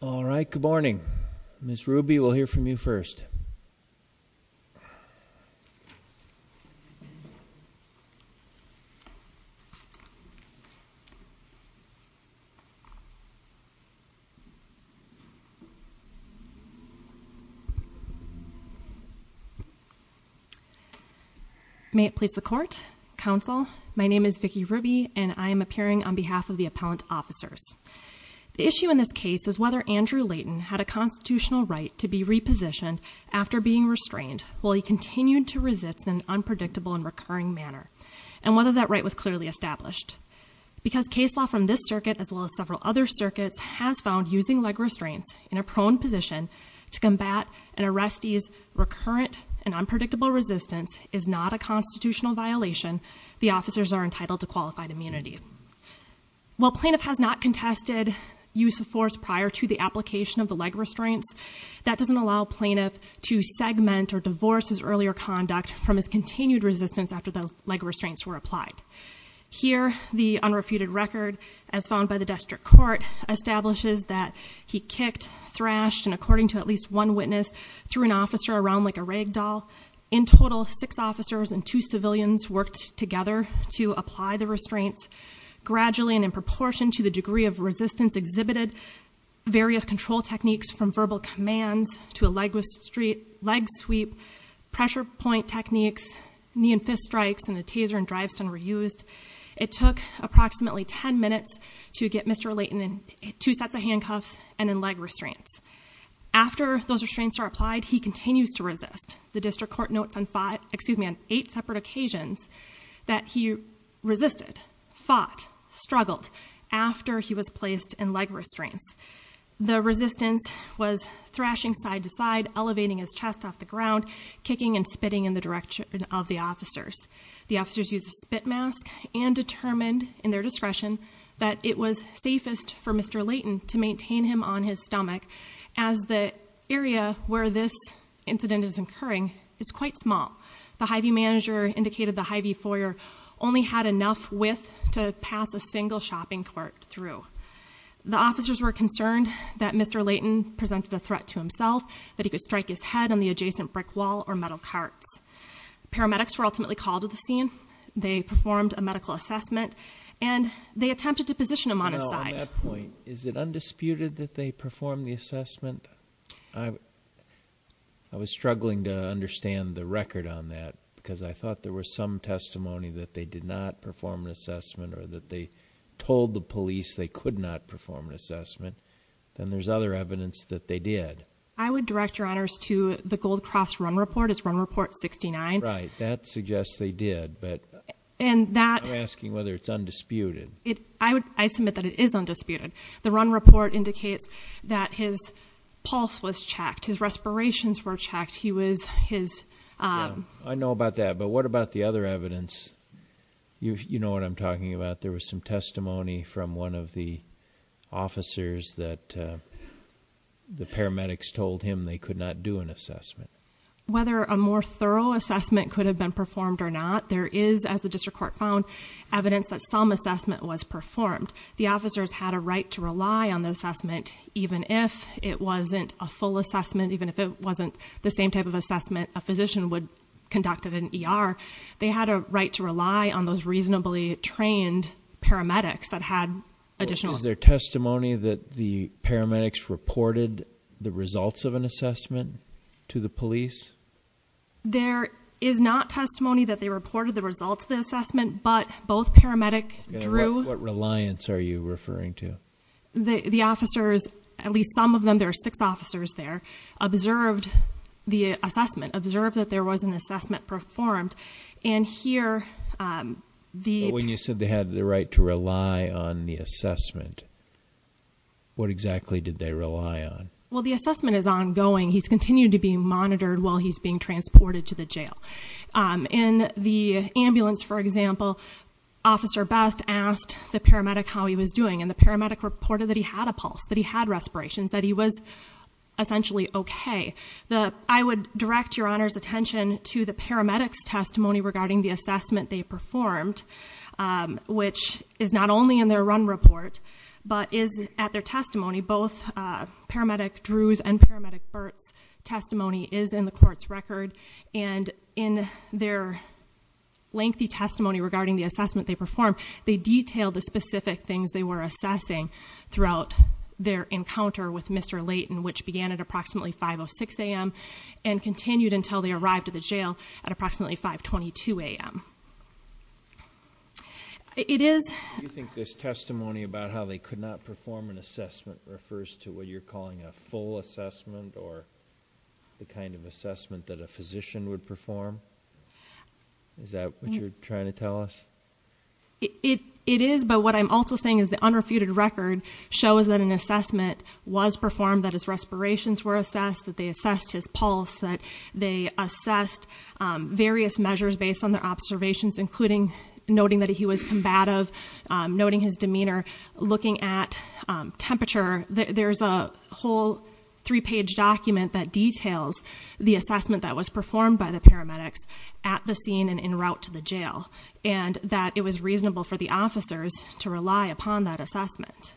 All right, good morning. Miss Ruby will hear from you first May it please the court council. My name is Vicki Ruby and I am appearing on behalf of the appellant officers The issue in this case is whether Andrew Layton had a constitutional right to be repositioned after being restrained Well, he continued to resist an unpredictable and recurring manner and whether that right was clearly established Because case law from this circuit as well as several other circuits has found using leg restraints in a prone position To combat an arrest ease recurrent and unpredictable resistance is not a constitutional violation The officers are entitled to qualified immunity While plaintiff has not contested Use of force prior to the application of the leg restraints That doesn't allow plaintiff to segment or divorce his earlier conduct from his continued resistance after the leg restraints were applied Here the unrefuted record as found by the district court Establishes that he kicked thrashed and according to at least one witness Through an officer around like a ragdoll in total six officers and two civilians worked together to apply the restraints gradually and in proportion to the degree of resistance exhibited Various control techniques from verbal commands to a leg was street leg sweep Pressure point techniques knee and fist strikes and the taser and drive stun were used. It took approximately 10 minutes to get mr Layton in two sets of handcuffs and in leg restraints After those restraints are applied. He continues to resist the district court notes on five excuse me on eight separate occasions that he Resisted fought struggled after he was placed in leg restraints The resistance was thrashing side to side elevating his chest off the ground kicking and spitting in the direction of the officers the officers used a spit mask and Determined in their discretion that it was safest for mr Layton to maintain him on his stomach as the area where this Incident is incurring is quite small The hi-v manager indicated the hi-v foyer only had enough width to pass a single shopping cart through The officers were concerned that mr Layton presented a threat to himself that he could strike his head on the adjacent brick wall or metal carts Paramedics were ultimately called to the scene. They performed a medical assessment and They attempted to position him on his side point. Is it undisputed that they perform the assessment? I Was struggling to understand the record on that because I thought there was some testimony that they did not perform an assessment or that they Told the police they could not perform an assessment and there's other evidence that they did I would direct your honors to the Gold Cross run report is run report 69, right? That suggests they did but and that asking whether it's undisputed it I would I submit that it is undisputed the run report indicates that his pulse was checked Respirations were checked. He was his I know about that. But what about the other evidence? You know what? I'm talking about. There was some testimony from one of the officers that The paramedics told him they could not do an assessment Whether a more thorough assessment could have been performed or not There is as the district court found evidence that some assessment was performed The officers had a right to rely on the assessment even if it wasn't a full assessment even if it wasn't the same type of assessment a physician would Conducted an ER they had a right to rely on those reasonably trained paramedics that had additional their testimony that the paramedics reported the results of an assessment to the police There is not testimony that they reported the results of the assessment, but both paramedic drew Reliance are you referring to the the officers at least some of them? There are six officers there observed the assessment observed that there was an assessment performed and here The when you said they had the right to rely on the assessment What exactly did they rely on? Well, the assessment is ongoing. He's continued to be monitored while he's being transported to the jail in the ambulance, for example Officer best asked the paramedic how he was doing and the paramedic reported that he had a pulse that he had respirations that he was Essentially, okay, the I would direct your honors attention to the paramedics testimony regarding the assessment they performed Which is not only in their run report, but is at their testimony both paramedic Drew's and paramedic Burt's testimony is in the court's record and in their Lengthy testimony regarding the assessment they performed they detailed the specific things they were assessing throughout their encounter with Mr. Layton which began at approximately 5 or 6 a.m. And Continued until they arrived at the jail at approximately 5 22 a.m It is you think this testimony about how they could not perform an assessment refers to what you're calling a full assessment or the kind of assessment that a physician would perform Is that what you're trying to tell us? It it is but what I'm also saying is the unrefuted record shows that an assessment Was performed that his respirations were assessed that they assessed his pulse that they assessed various measures based on their observations including noting that he was combative noting his demeanor looking at Temperature there's a whole three page document that details the assessment that was performed by the paramedics At the scene and in route to the jail and that it was reasonable for the officers to rely upon that assessment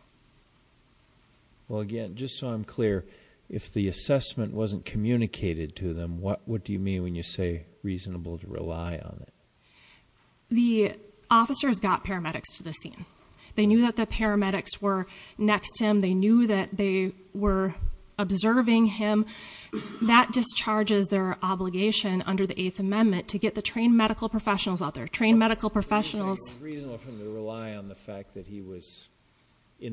Well again, just so I'm clear if the assessment wasn't communicated to them What what do you mean when you say reasonable to rely on it? the Officers got paramedics to the scene. They knew that the paramedics were next him. They knew that they were observing him That discharges their obligation under the Eighth Amendment to get the trained medical professionals out there trained medical professionals In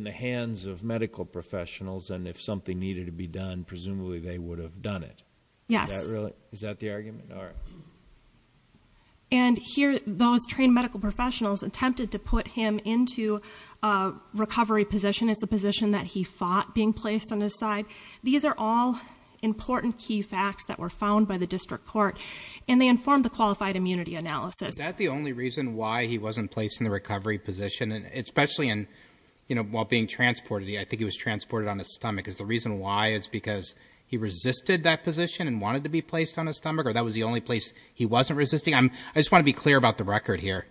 the hands of medical professionals and if something needed to be done presumably they would have done it Yeah, really? Is that the argument? All right and here those trained medical professionals attempted to put him into a Recovery position is the position that he fought being placed on his side. These are all Important key facts that were found by the district court and they informed the qualified immunity analysis That the only reason why he wasn't placed in the recovery position and especially in you know while being transported I think he was transported on his stomach is the reason why it's because He resisted that position and wanted to be placed on his stomach or that was the only place he wasn't resisting I'm I just want to be clear about the record here.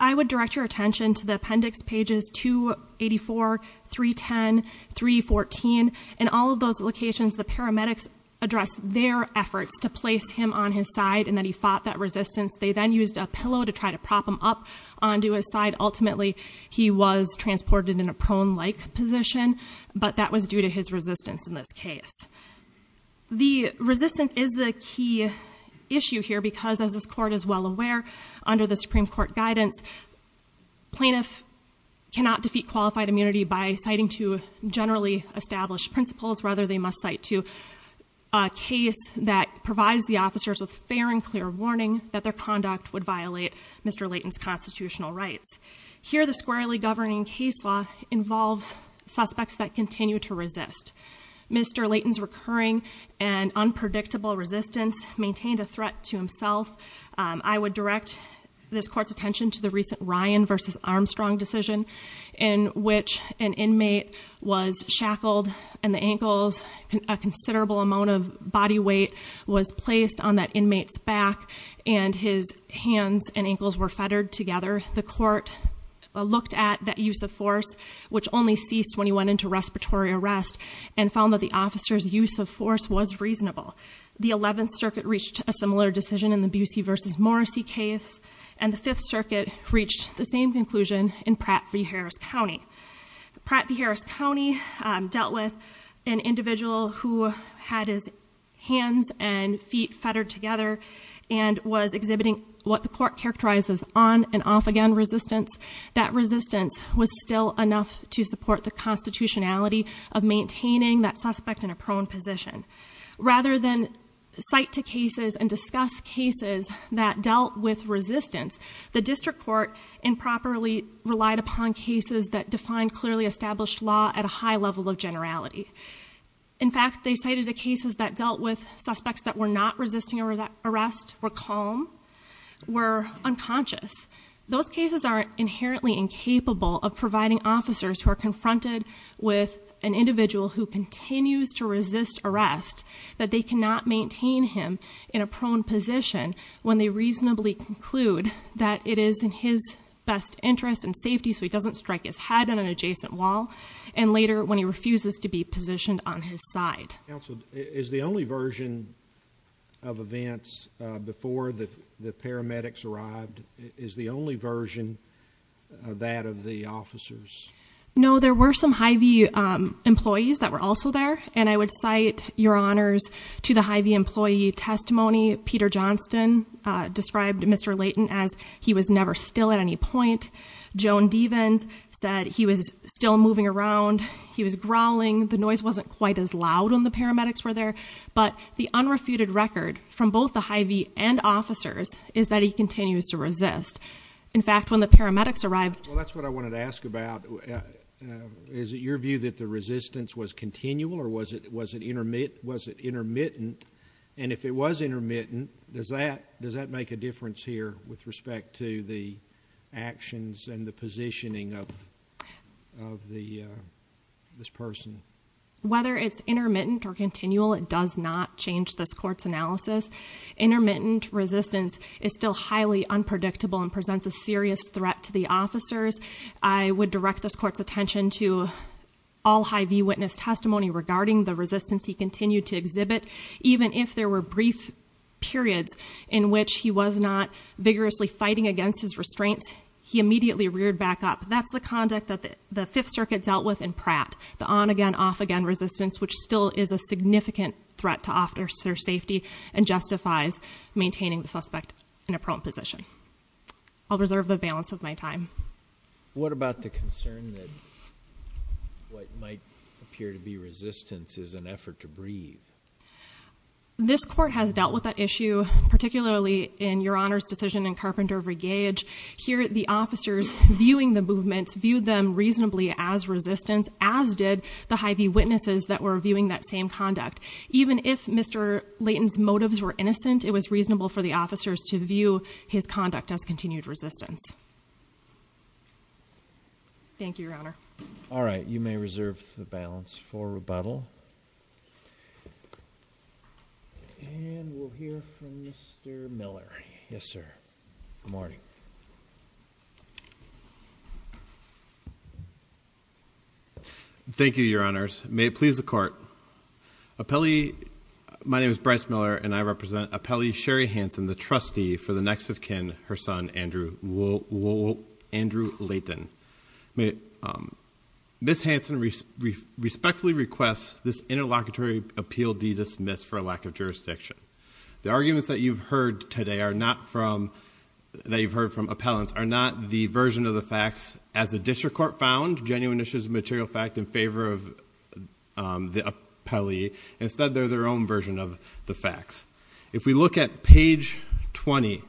I would direct your attention to the appendix pages 284 310 314 and all of those locations the paramedics Address their efforts to place him on his side and that he fought that resistance They then used a pillow to try to prop him up onto his side Ultimately, he was transported in a prone like position, but that was due to his resistance in this case The resistance is the key issue here because as this court is well aware under the Supreme Court guidance plaintiff Cannot defeat qualified immunity by citing to generally established principles rather they must cite to a Case that provides the officers with fair and clear warning that their conduct would violate. Mr. Layton's constitutional rights Here the squarely governing case law involves suspects that continue to resist Mr. Layton's recurring and Unpredictable resistance maintained a threat to himself I would direct this court's attention to the recent Ryan versus Armstrong decision in Which an inmate was shackled and the ankles a considerable amount of body weight Was placed on that inmates back and his hands and ankles were fettered together the court Looked at that use of force Which only ceased when he went into respiratory arrest and found that the officers use of force was reasonable The 11th Circuit reached a similar decision in the Busey versus Morrissey case and the 5th Circuit reached the same conclusion in Pratt v. Harris County Pratt v. Harris County dealt with an individual who had his hands and feet fettered together and Was exhibiting what the court characterizes on and off again resistance that resistance was still enough to support the constitutionality of maintaining that suspect in a prone position Rather than cite two cases and discuss cases that dealt with resistance the district court Improperly relied upon cases that defined clearly established law at a high level of generality In fact, they cited two cases that dealt with suspects that were not resisting arrest were calm Were unconscious those cases aren't inherently incapable of providing officers who are confronted with an individual Continues to resist arrest that they cannot maintain him in a prone position When they reasonably conclude that it is in his best interest and safety So he doesn't strike his head on an adjacent wall and later when he refuses to be positioned on his side is the only version of Events before that the paramedics arrived is the only version That of the officers No, there were some Hy-Vee Employees that were also there and I would cite your honors to the Hy-Vee employee testimony Peter Johnston Described mr. Layton as he was never still at any point Joan Devens said he was still moving around He was growling the noise wasn't quite as loud when the paramedics were there But the unrefuted record from both the Hy-Vee and officers is that he continues to resist In fact when the paramedics arrived, well, that's what I wanted to ask about Is it your view that the resistance was continual or was it was it intermittent was it intermittent? and if it was intermittent, does that does that make a difference here with respect to the actions and the positioning of the This person whether it's intermittent or continual. It does not change this courts analysis Intermittent resistance is still highly unpredictable and presents a serious threat to the officers I would direct this court's attention to all Hy-Vee witness testimony regarding the resistance he continued to exhibit even if there were brief Periods in which he was not vigorously fighting against his restraints. He immediately reared back up That's the conduct that the Fifth Circuit dealt with in Pratt the on again off again resistance Which still is a significant threat to officer safety and justifies maintaining the suspect in a prone position I'll reserve the balance of my time What about the concern that? What might appear to be resistance is an effort to breathe? This court has dealt with that issue Particularly in your honors decision in Carpenter Regage here at the officers Viewing the movements viewed them reasonably as resistance as did the Hy-Vee witnesses that were viewing that same conduct Even if mr. Layton's motives were innocent. It was reasonable for the officers to view his conduct as continued resistance Thank you, your honor, all right, you may reserve the balance for rebuttal Yes, sir morning Thank You your honors may it please the court appellee My name is Bryce Miller and I represent a Pele Sherry Hanson the trustee for the next of kin her son Andrew will Andrew Layton may Miss Hanson respectfully requests this interlocutory appeal D dismissed for a lack of jurisdiction the arguments that you've heard today are not from That you've heard from appellants are not the version of the facts as the district court found genuine issues material fact in favor of The appellee instead. They're their own version of the facts if we look at page 20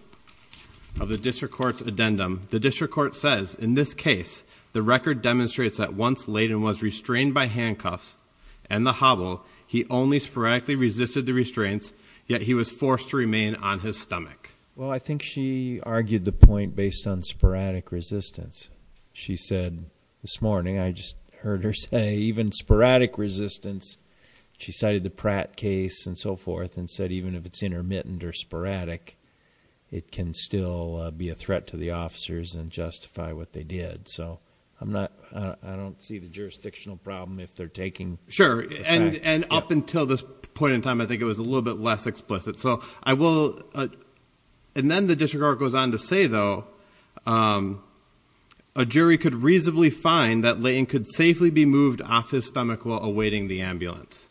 Of the district courts addendum the district court says in this case The record demonstrates that once Layton was restrained by handcuffs and the hobble He only sporadically resisted the restraints yet. He was forced to remain on his stomach Well, I think she argued the point based on sporadic resistance. She said this morning I just heard her say even sporadic resistance She cited the Pratt case and so forth and said even if it's intermittent or sporadic It can still be a threat to the officers and justify what they did So I'm not I don't see the jurisdictional problem if they're taking sure and and up until this point in time I think it was a little bit less explicit. So I will And then the district court goes on to say though a Jury could reasonably find that laying could safely be moved off his stomach while awaiting the ambulance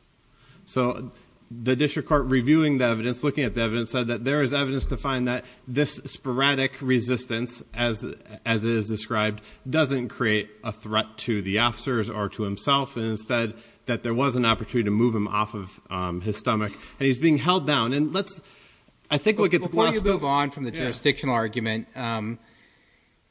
So the district court reviewing the evidence looking at the evidence said that there is evidence to find that this sporadic resistance as as it is described doesn't create a threat to the officers or to himself instead that there was an opportunity to Move him off of his stomach and he's being held down and let's I Move on from the jurisdictional argument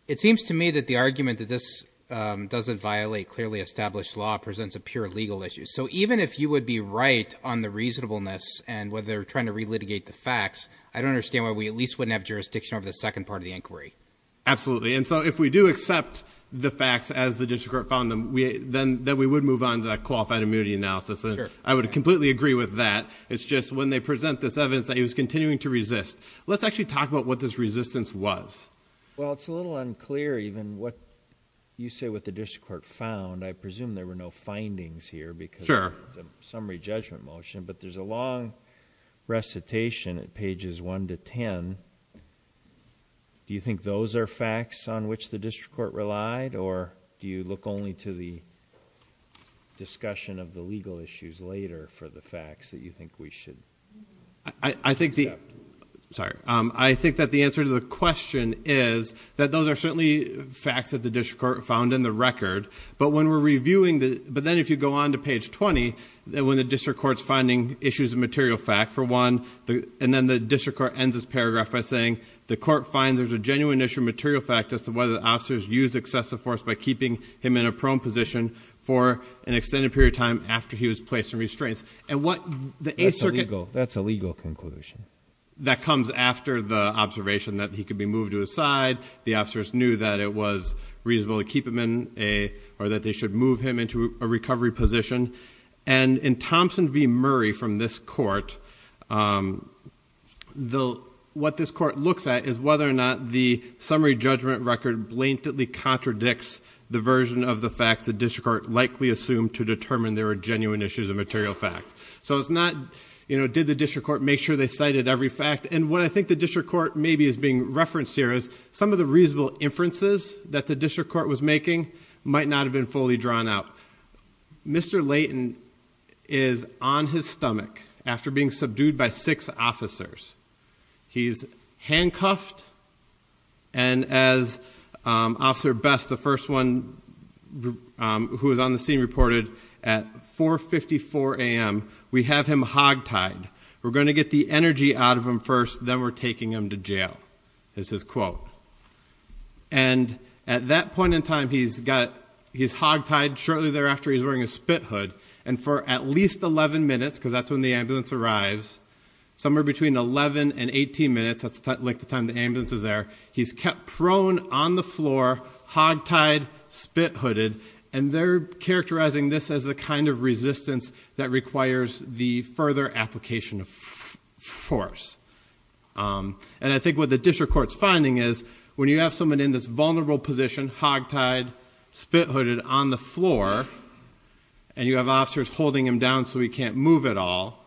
It seems to me that the argument that this Doesn't violate clearly established law presents a pure legal issue So even if you would be right on the reasonableness and whether they're trying to relitigate the facts I don't understand why we at least wouldn't have jurisdiction over the second part of the inquiry Absolutely. And so if we do accept the facts as the district found them We then that we would move on to that qualified immunity analysis. I would completely agree with that It's just when they present this evidence that he was continuing to resist. Let's actually talk about what this resistance was Well, it's a little unclear even what you say what the district court found I presume there were no findings here because there's a summary judgment motion, but there's a long recitation at pages 1 to 10 Do you think those are facts on which the district court relied or do you look only to the Discussion of the legal issues later for the facts that you think we should I think the Sorry, I think that the answer to the question is that those are certainly facts that the district court found in the record But when we're reviewing the but then if you go on to page 20 then when the district courts finding issues of material fact for one the and then the district court ends this paragraph by saying the court finds there's a genuine issue material fact as to whether the officers use excessive force by keeping him in a prone position for An extended period of time after he was placed in restraints and what the a circle that's a legal conclusion that comes after the observation that he could be moved to his side the officers knew that it was Reasonable to keep him in a or that they should move him into a recovery position and in Thompson v Murray from this court The what this court looks at is whether or not the summary judgment record blatantly Contradicts the version of the facts the district court likely assumed to determine there are genuine issues of material fact So it's not you know Did the district court make sure they cited every fact and what I think the district court maybe is being referenced here is some of The reasonable inferences that the district court was making might not have been fully drawn out Mr. Layton is on his stomach after being subdued by six officers he's handcuffed and as Officer best the first one Who is on the scene reported at? 454 a.m. We have him hogtied. We're going to get the energy out of him first, then we're taking him to jail this is quote and At that point in time. He's got he's hogtied shortly thereafter He's wearing a spit hood and for at least 11 minutes because that's when the ambulance arrives Somewhere between 11 and 18 minutes. That's not like the time the ambulance is there. He's kept prone on the floor hogtied Spit-hooded and they're characterizing this as the kind of resistance that requires the further application of force And I think what the district court's finding is when you have someone in this vulnerable position hogtied spit-hooded on the floor and You have officers holding him down so he can't move at all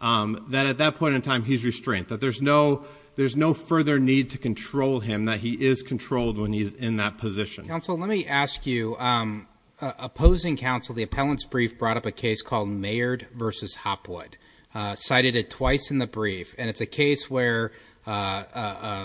That at that point in time he's restrained that there's no There's no further need to control him that he is controlled when he's in that position council. Let me ask you Opposing counsel the appellants brief brought up a case called Mayard versus Hopwood Cited it twice in the brief and it's a case where? The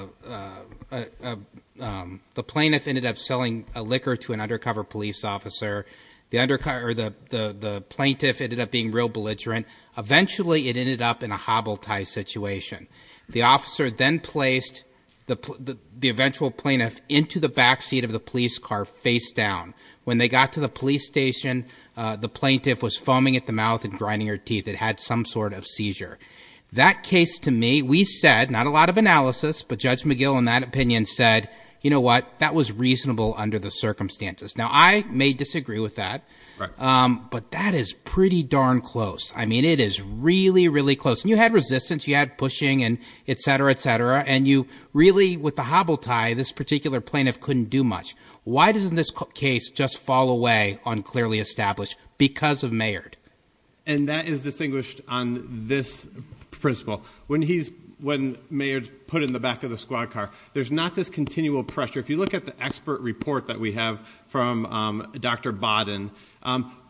plaintiff ended up selling a liquor to an undercover police officer the undercar or the Plaintiff ended up being real belligerent eventually it ended up in a hobble tie situation the officer then placed The the eventual plaintiff into the backseat of the police car face down when they got to the police station The plaintiff was foaming at the mouth and grinding her teeth It had some sort of seizure that case to me We said not a lot of analysis But judge McGill in that opinion said you know what that was reasonable under the circumstances now I may disagree with that But that is pretty darn close I mean it is really really close and you had resistance you had pushing and etc, etc And you really with the hobble tie this particular plaintiff couldn't do much Why doesn't this case just fall away on clearly established because of Mayard and that is distinguished on this? Principle when he's when Mayard put in the back of the squad car There's not this continual pressure if you look at the expert report that we have from Dr. Bodden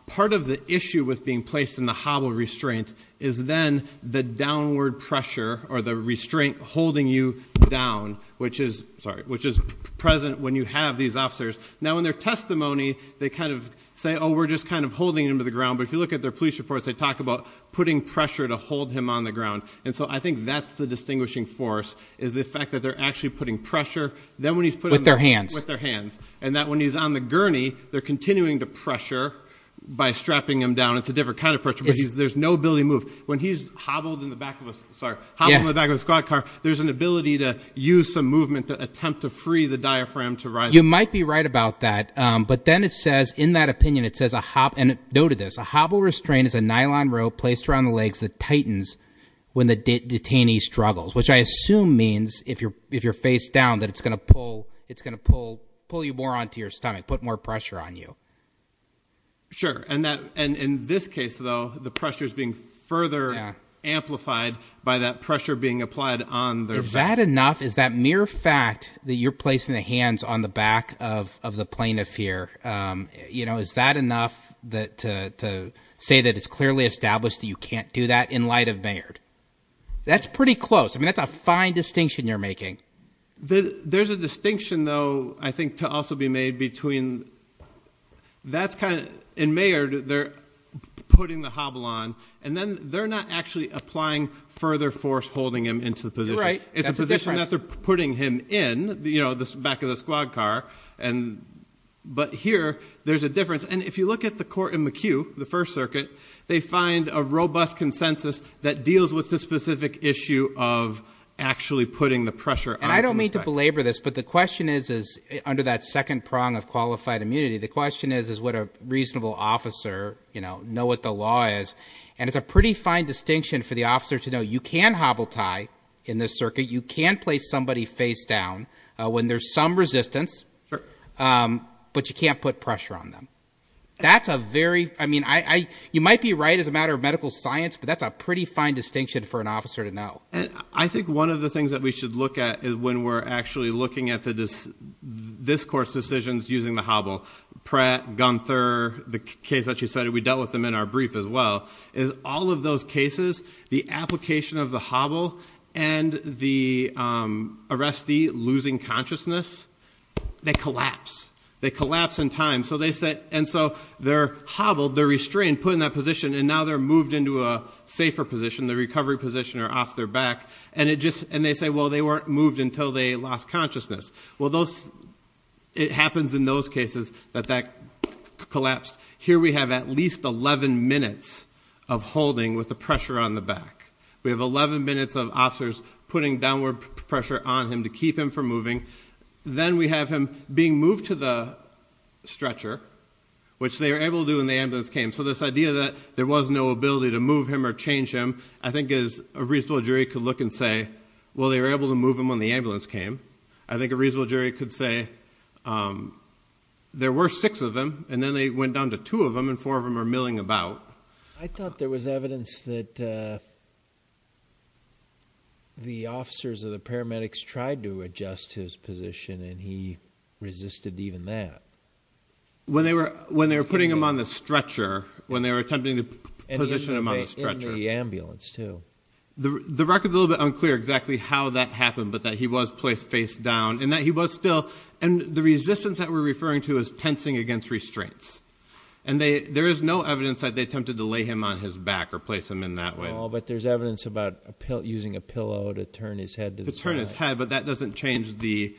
Part of the issue with being placed in the hobble restraint is then the downward pressure or the restraint holding you down Which is sorry which is present when you have these officers now in their testimony they kind of say Oh, we're just kind of holding him to the ground, but if you look at their police reports They talk about putting pressure to hold him on the ground And so I think that's the distinguishing force is the fact that they're actually putting pressure Then when he's put with their hands with their hands and that when he's on the gurney, they're continuing to pressure By strapping him down. It's a different kind of pressure But he's there's no ability move when he's hobbled in the back of us Sorry, I'm the back of the squad car There's an ability to use some movement to attempt to free the diaphragm to rise you might be right about that But then it says in that opinion It says a hop and noted this a hobble restraint is a nylon rope placed around the legs that tightens When the detainee struggles, which I assume means if you're if you're facedown that it's gonna pull it's gonna pull pull you more Onto your stomach put more pressure on you Sure, and that and in this case though, the pressure is being further Amplified by that pressure being applied on there's that enough Is that mere fact that you're placing the hands on the back of the plaintiff here? You know, is that enough that to say that it's clearly established that you can't do that in light of Baird That's pretty close. I mean, that's a fine distinction. You're making the there's a distinction though. I think to also be made between That's kind of in mayor they're Putting the hobble on and then they're not actually applying further force holding him into the position, right? it's a position that they're putting him in, you know, this back of the squad car and But here there's a difference and if you look at the court in McHugh the First Circuit They find a robust consensus that deals with the specific issue of Actually putting the pressure. I don't mean to belabor this but the question is is under that second prong of qualified immunity The question is is what a reasonable officer, you know Know what the law is and it's a pretty fine distinction for the officer to know you can hobble tie in this circuit You can't place somebody facedown when there's some resistance But you can't put pressure on them That's a very I mean I you might be right as a matter of medical science but that's a pretty fine distinction for an officer to know and I think one of the things that we should look at is when we're actually looking at the This course decisions using the hobble Pratt Gunther the case that you cited we dealt with them in our brief as well is all of those cases the application of the hobble and the arrestee losing consciousness They collapse they collapse in time So they said and so they're hobbled they're restrained put in that position and now they're moved into a safer position The recovery position are off their back and it just and they say well, they weren't moved until they lost consciousness. Well those It happens in those cases that that Collapsed here. We have at least 11 minutes of holding with the pressure on the back We have 11 minutes of officers putting downward pressure on him to keep him from moving then we have him being moved to the stretcher Which they were able to do in the ambulance came so this idea that there was no ability to move him or change him I think is a reasonable jury could look and say well, they were able to move him on the ambulance came I think a reasonable jury could say There were six of them and then they went down to two of them and four of them are milling about I thought there was evidence that The officers of the paramedics tried to adjust his position and he resisted even that When they were when they were putting him on the stretcher when they were attempting to position him on the stretcher the ambulance, too the the records a little bit unclear exactly how that happened but that he was placed face down and that he was still and the resistance that we're referring to is tensing against restraints and There is no evidence that they attempted to lay him on his back or place him in that way Oh, but there's evidence about a pill using a pillow to turn his head to turn his head but that doesn't change the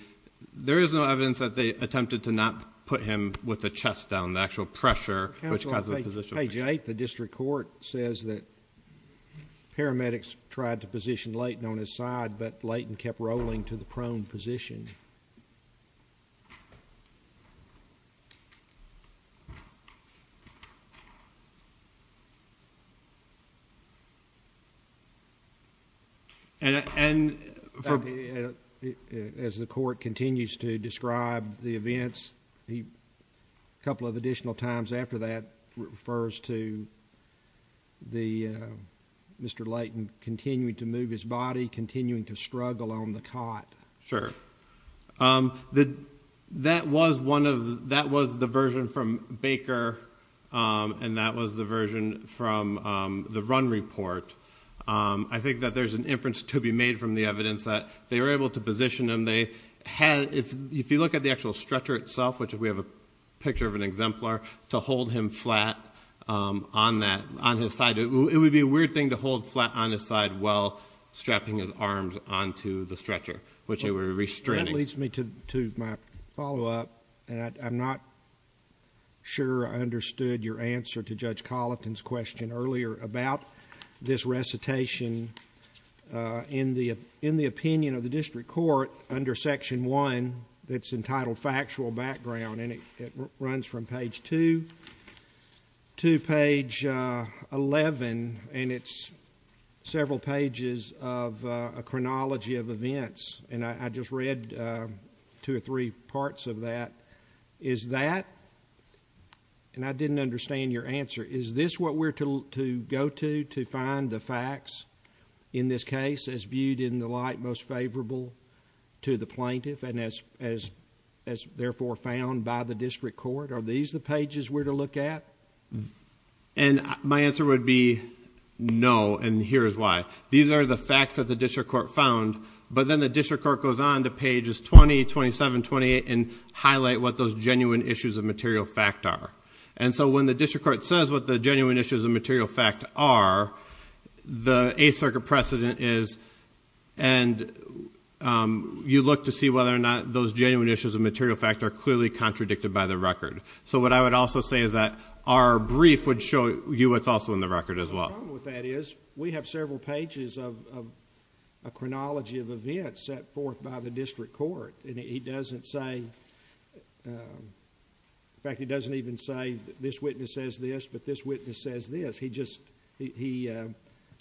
There is no evidence that they attempted to not put him with the chest down the actual pressure Hey, Jake, the district court says that Paramedics tried to position Layton on his side, but Layton kept rolling to the prone position And And As the court continues to describe the events he a couple of additional times after that refers to the Mr. Layton continuing to move his body continuing to struggle on the cot sure The that was one of that was the version from Baker And that was the version from the run report I think that there's an inference to be made from the evidence that they were able to position him They had if you look at the actual stretcher itself, which we have a picture of an exemplar to hold him flat On that on his side. It would be a weird thing to hold flat on his side While strapping his arms onto the stretcher, which they were restraining leads me to my follow-up and I'm not Sure, I understood your answer to judge Colleton's question earlier about this recitation In the in the opinion of the district court under section 1 that's entitled factual background and it runs from page 2 to page 11 and it's several pages of a chronology of events and I just read two or three parts of that is that And I didn't understand your answer. Is this what we're to go to to find the facts in this case as viewed in the light most favorable to the plaintiff and as as as Therefore found by the district court. Are these the pages we're to look at? and my answer would be No, and here's why these are the facts that the district court found But then the district court goes on to pages 20 27 28 and highlight what those genuine issues of material fact are And so when the district court says what the genuine issues of material fact are the a circuit precedent is and You look to see whether or not those genuine issues of material fact are clearly contradicted by the record So what I would also say is that our brief would show you what's also in the record as well what that is we have several pages of a Chronology of events set forth by the district court, and he doesn't say In fact, he doesn't even say this witness says this but this witness says this he just he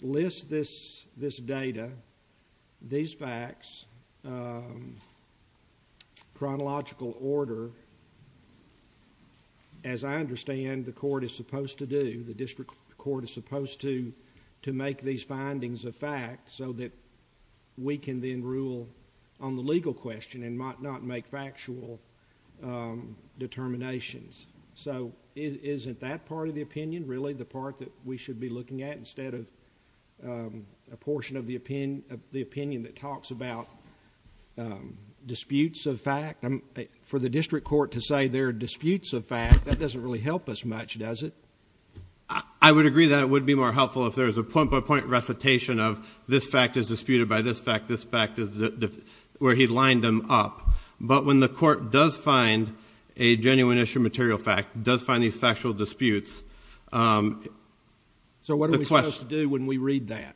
lists this this data these facts Chronological order as I understand the court is supposed to do the district court is supposed to to make these findings of fact so that We can then rule on the legal question and might not make factual Determinations so isn't that part of the opinion really the part that we should be looking at instead of a portion of the opinion of the opinion that talks about Disputes of fact I'm for the district court to say there are disputes of fact that doesn't really help us much does it I Would agree that it would be more helpful if there's a point-by-point recitation of this fact is disputed by this fact this fact is Where he lined them up, but when the court does find a genuine issue material fact does find these factual disputes So what do we do when we read that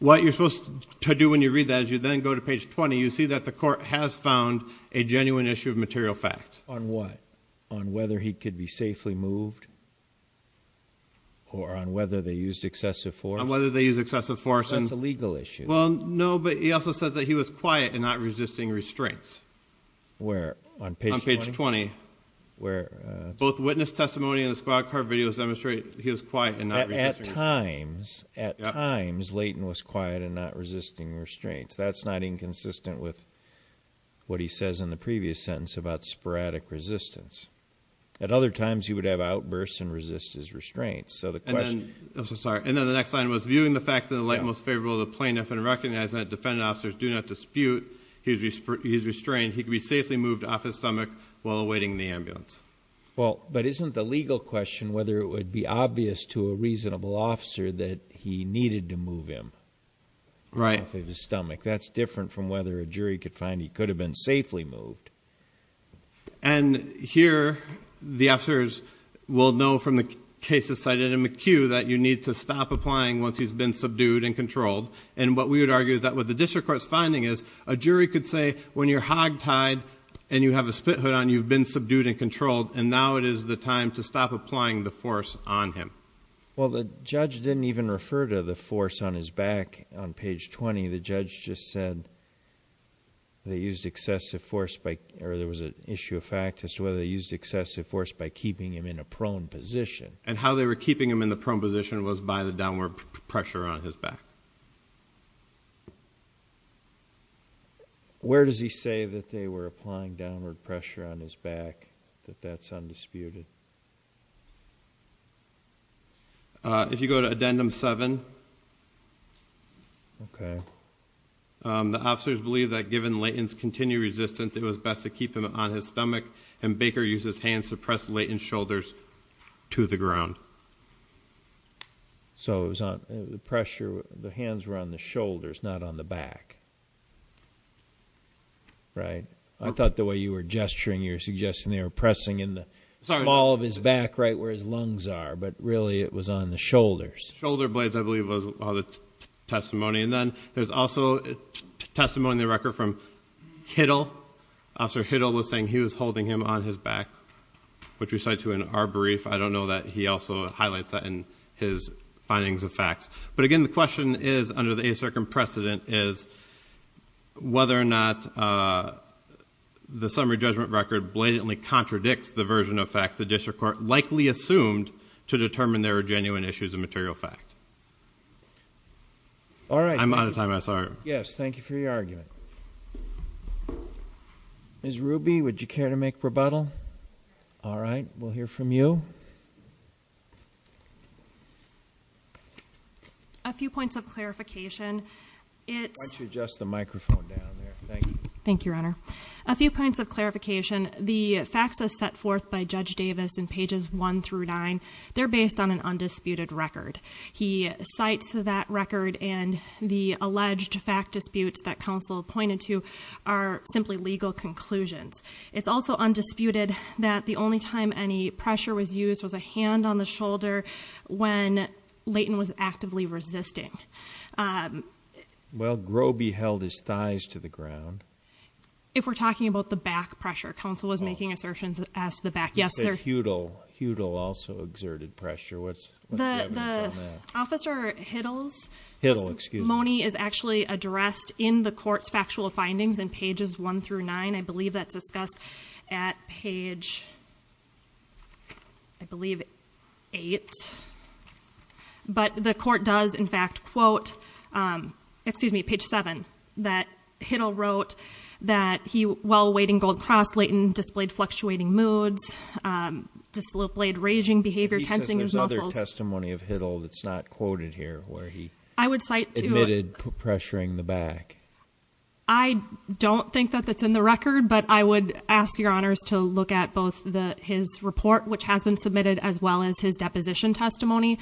What you're supposed to do when you read that as you then go to page 20 you see that the court has found a Genuine issue of material fact on what on whether he could be safely moved Or on whether they used excessive for whether they use excessive force and it's a legal issue Well, no, but he also says that he was quiet and not resisting restraints where on page 20 Where both witness testimony in the squad car videos demonstrate? At times at times Leighton was quiet and not resisting restraints, that's not inconsistent with What he says in the previous sentence about sporadic resistance at other times he would have outbursts and resist his restraints So the question Sorry, and then the next line was viewing the facts in the light most favorable to plaintiff and recognize that defendant officers do not dispute He's he's restrained. He could be safely moved off his stomach while awaiting the ambulance Well, but isn't the legal question whether it would be obvious to a reasonable officer that he needed to move him Right of his stomach. That's different from whether a jury could find he could have been safely moved and Here the officers Will know from the cases cited in McHugh that you need to stop applying once he's been subdued and controlled and what we would argue Is that what the district courts finding is a jury could say when you're hogtied and you have a spit hood on you've been subdued And controlled and now it is the time to stop applying the force on him Well, the judge didn't even refer to the force on his back on page 20. The judge just said They used excessive force by or there was an issue of fact as to whether they used excessive force by keeping him in a prone Position and how they were keeping him in the prone position was by the downward pressure on his back Where does he say that they were applying downward pressure on his back That's undisputed If you go to addendum seven Okay The officers believe that given Layton's continue resistance It was best to keep him on his stomach and Baker uses hands to press Layton's shoulders to the ground So it was on the pressure the hands were on the shoulders not on the back I Thought the way you were gesturing you're suggesting they were pressing in the small of his back right where his lungs are But really it was on the shoulders shoulder blades. I believe was all the testimony and then there's also testimony in the record from Hittle officer Hittle was saying he was holding him on his back Which we cite to in our brief. I don't know that he also highlights that in his findings of facts but again, the question is under the a circum precedent is whether or not The summary judgment record blatantly contradicts the version of facts the district court likely assumed to determine there are genuine issues of material fact All right, I'm out of time I sorry yes, thank you for your argument Is Ruby would you care to make rebuttal? All right. We'll hear from you a Microphone Thank you, Your Honor a few points of clarification The facts are set forth by Judge Davis in pages 1 through 9. They're based on an undisputed record He cites that record and the alleged fact disputes that counsel pointed to are simply legal conclusions It's also undisputed that the only time any pressure was used was a hand on the shoulder when? Layton was actively resisting Well Groby held his thighs to the ground If we're talking about the back pressure counsel was making assertions as the back. Yes, sir. Huddle. Huddle also exerted pressure. What's Officer Hiddle's Hiddle excuse Moni is actually addressed in the court's factual findings in pages 1 through 9. I believe that's discussed at page I Believe it But the court does in fact quote Excuse me page 7 that Hiddle wrote that he while waiting gold cross Layton displayed fluctuating moods Discipline raging behavior tensing his other testimony of Hiddle. That's not quoted here where he I would cite admitted pressuring the back I Don't think that that's in the record But I would ask your honors to look at both the his report which has been submitted as well as his deposition testimony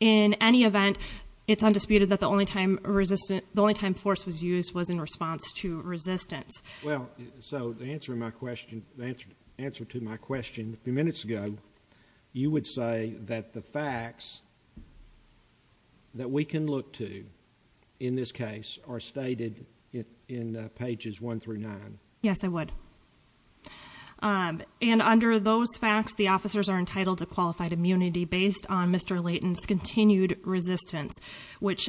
In any event, it's undisputed that the only time resistant the only time force was used was in response to resistance Well, so the answer my question the answer answer to my question a few minutes ago You would say that the facts That we can look to in this case are stated in pages 1 through 9, yes, I would And under those facts the officers are entitled to qualified immunity based on mr. Layton's continued resistance which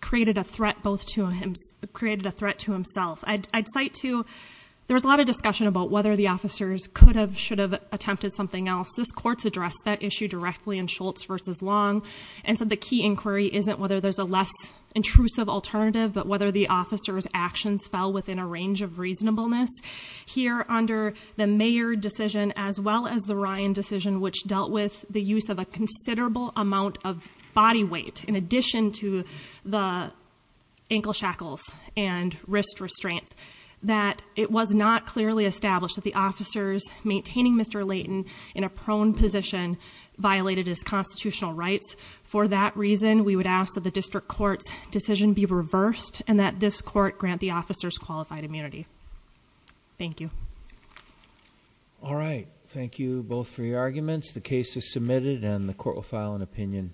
Created a threat both to him's created a threat to himself I'd cite to There was a lot of discussion about whether the officers could have should have attempted something else this courts addressed that issue directly in Schultz versus Long and said the key inquiry isn't whether there's a less intrusive alternative But whether the officers actions fell within a range of reasonableness here under the mayor decision as well as the Ryan decision which dealt with the use of a considerable amount of body weight in addition to the Ankle shackles and wrist restraints that it was not clearly established that the officers Maintaining mr. Layton in a prone position Violated his constitutional rights for that reason we would ask that the district courts decision be reversed and that this court grant the officers qualified immunity Thank you All right. Thank you both for your arguments. The case is submitted and the court will file an opinion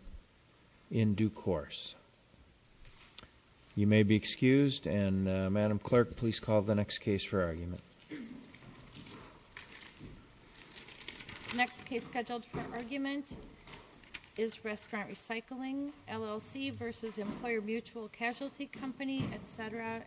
in due course You may be excused and madam clerk, please call the next case for argument Next case scheduled for argument Is restaurant recycling LLC versus employer mutual casualty company, etc You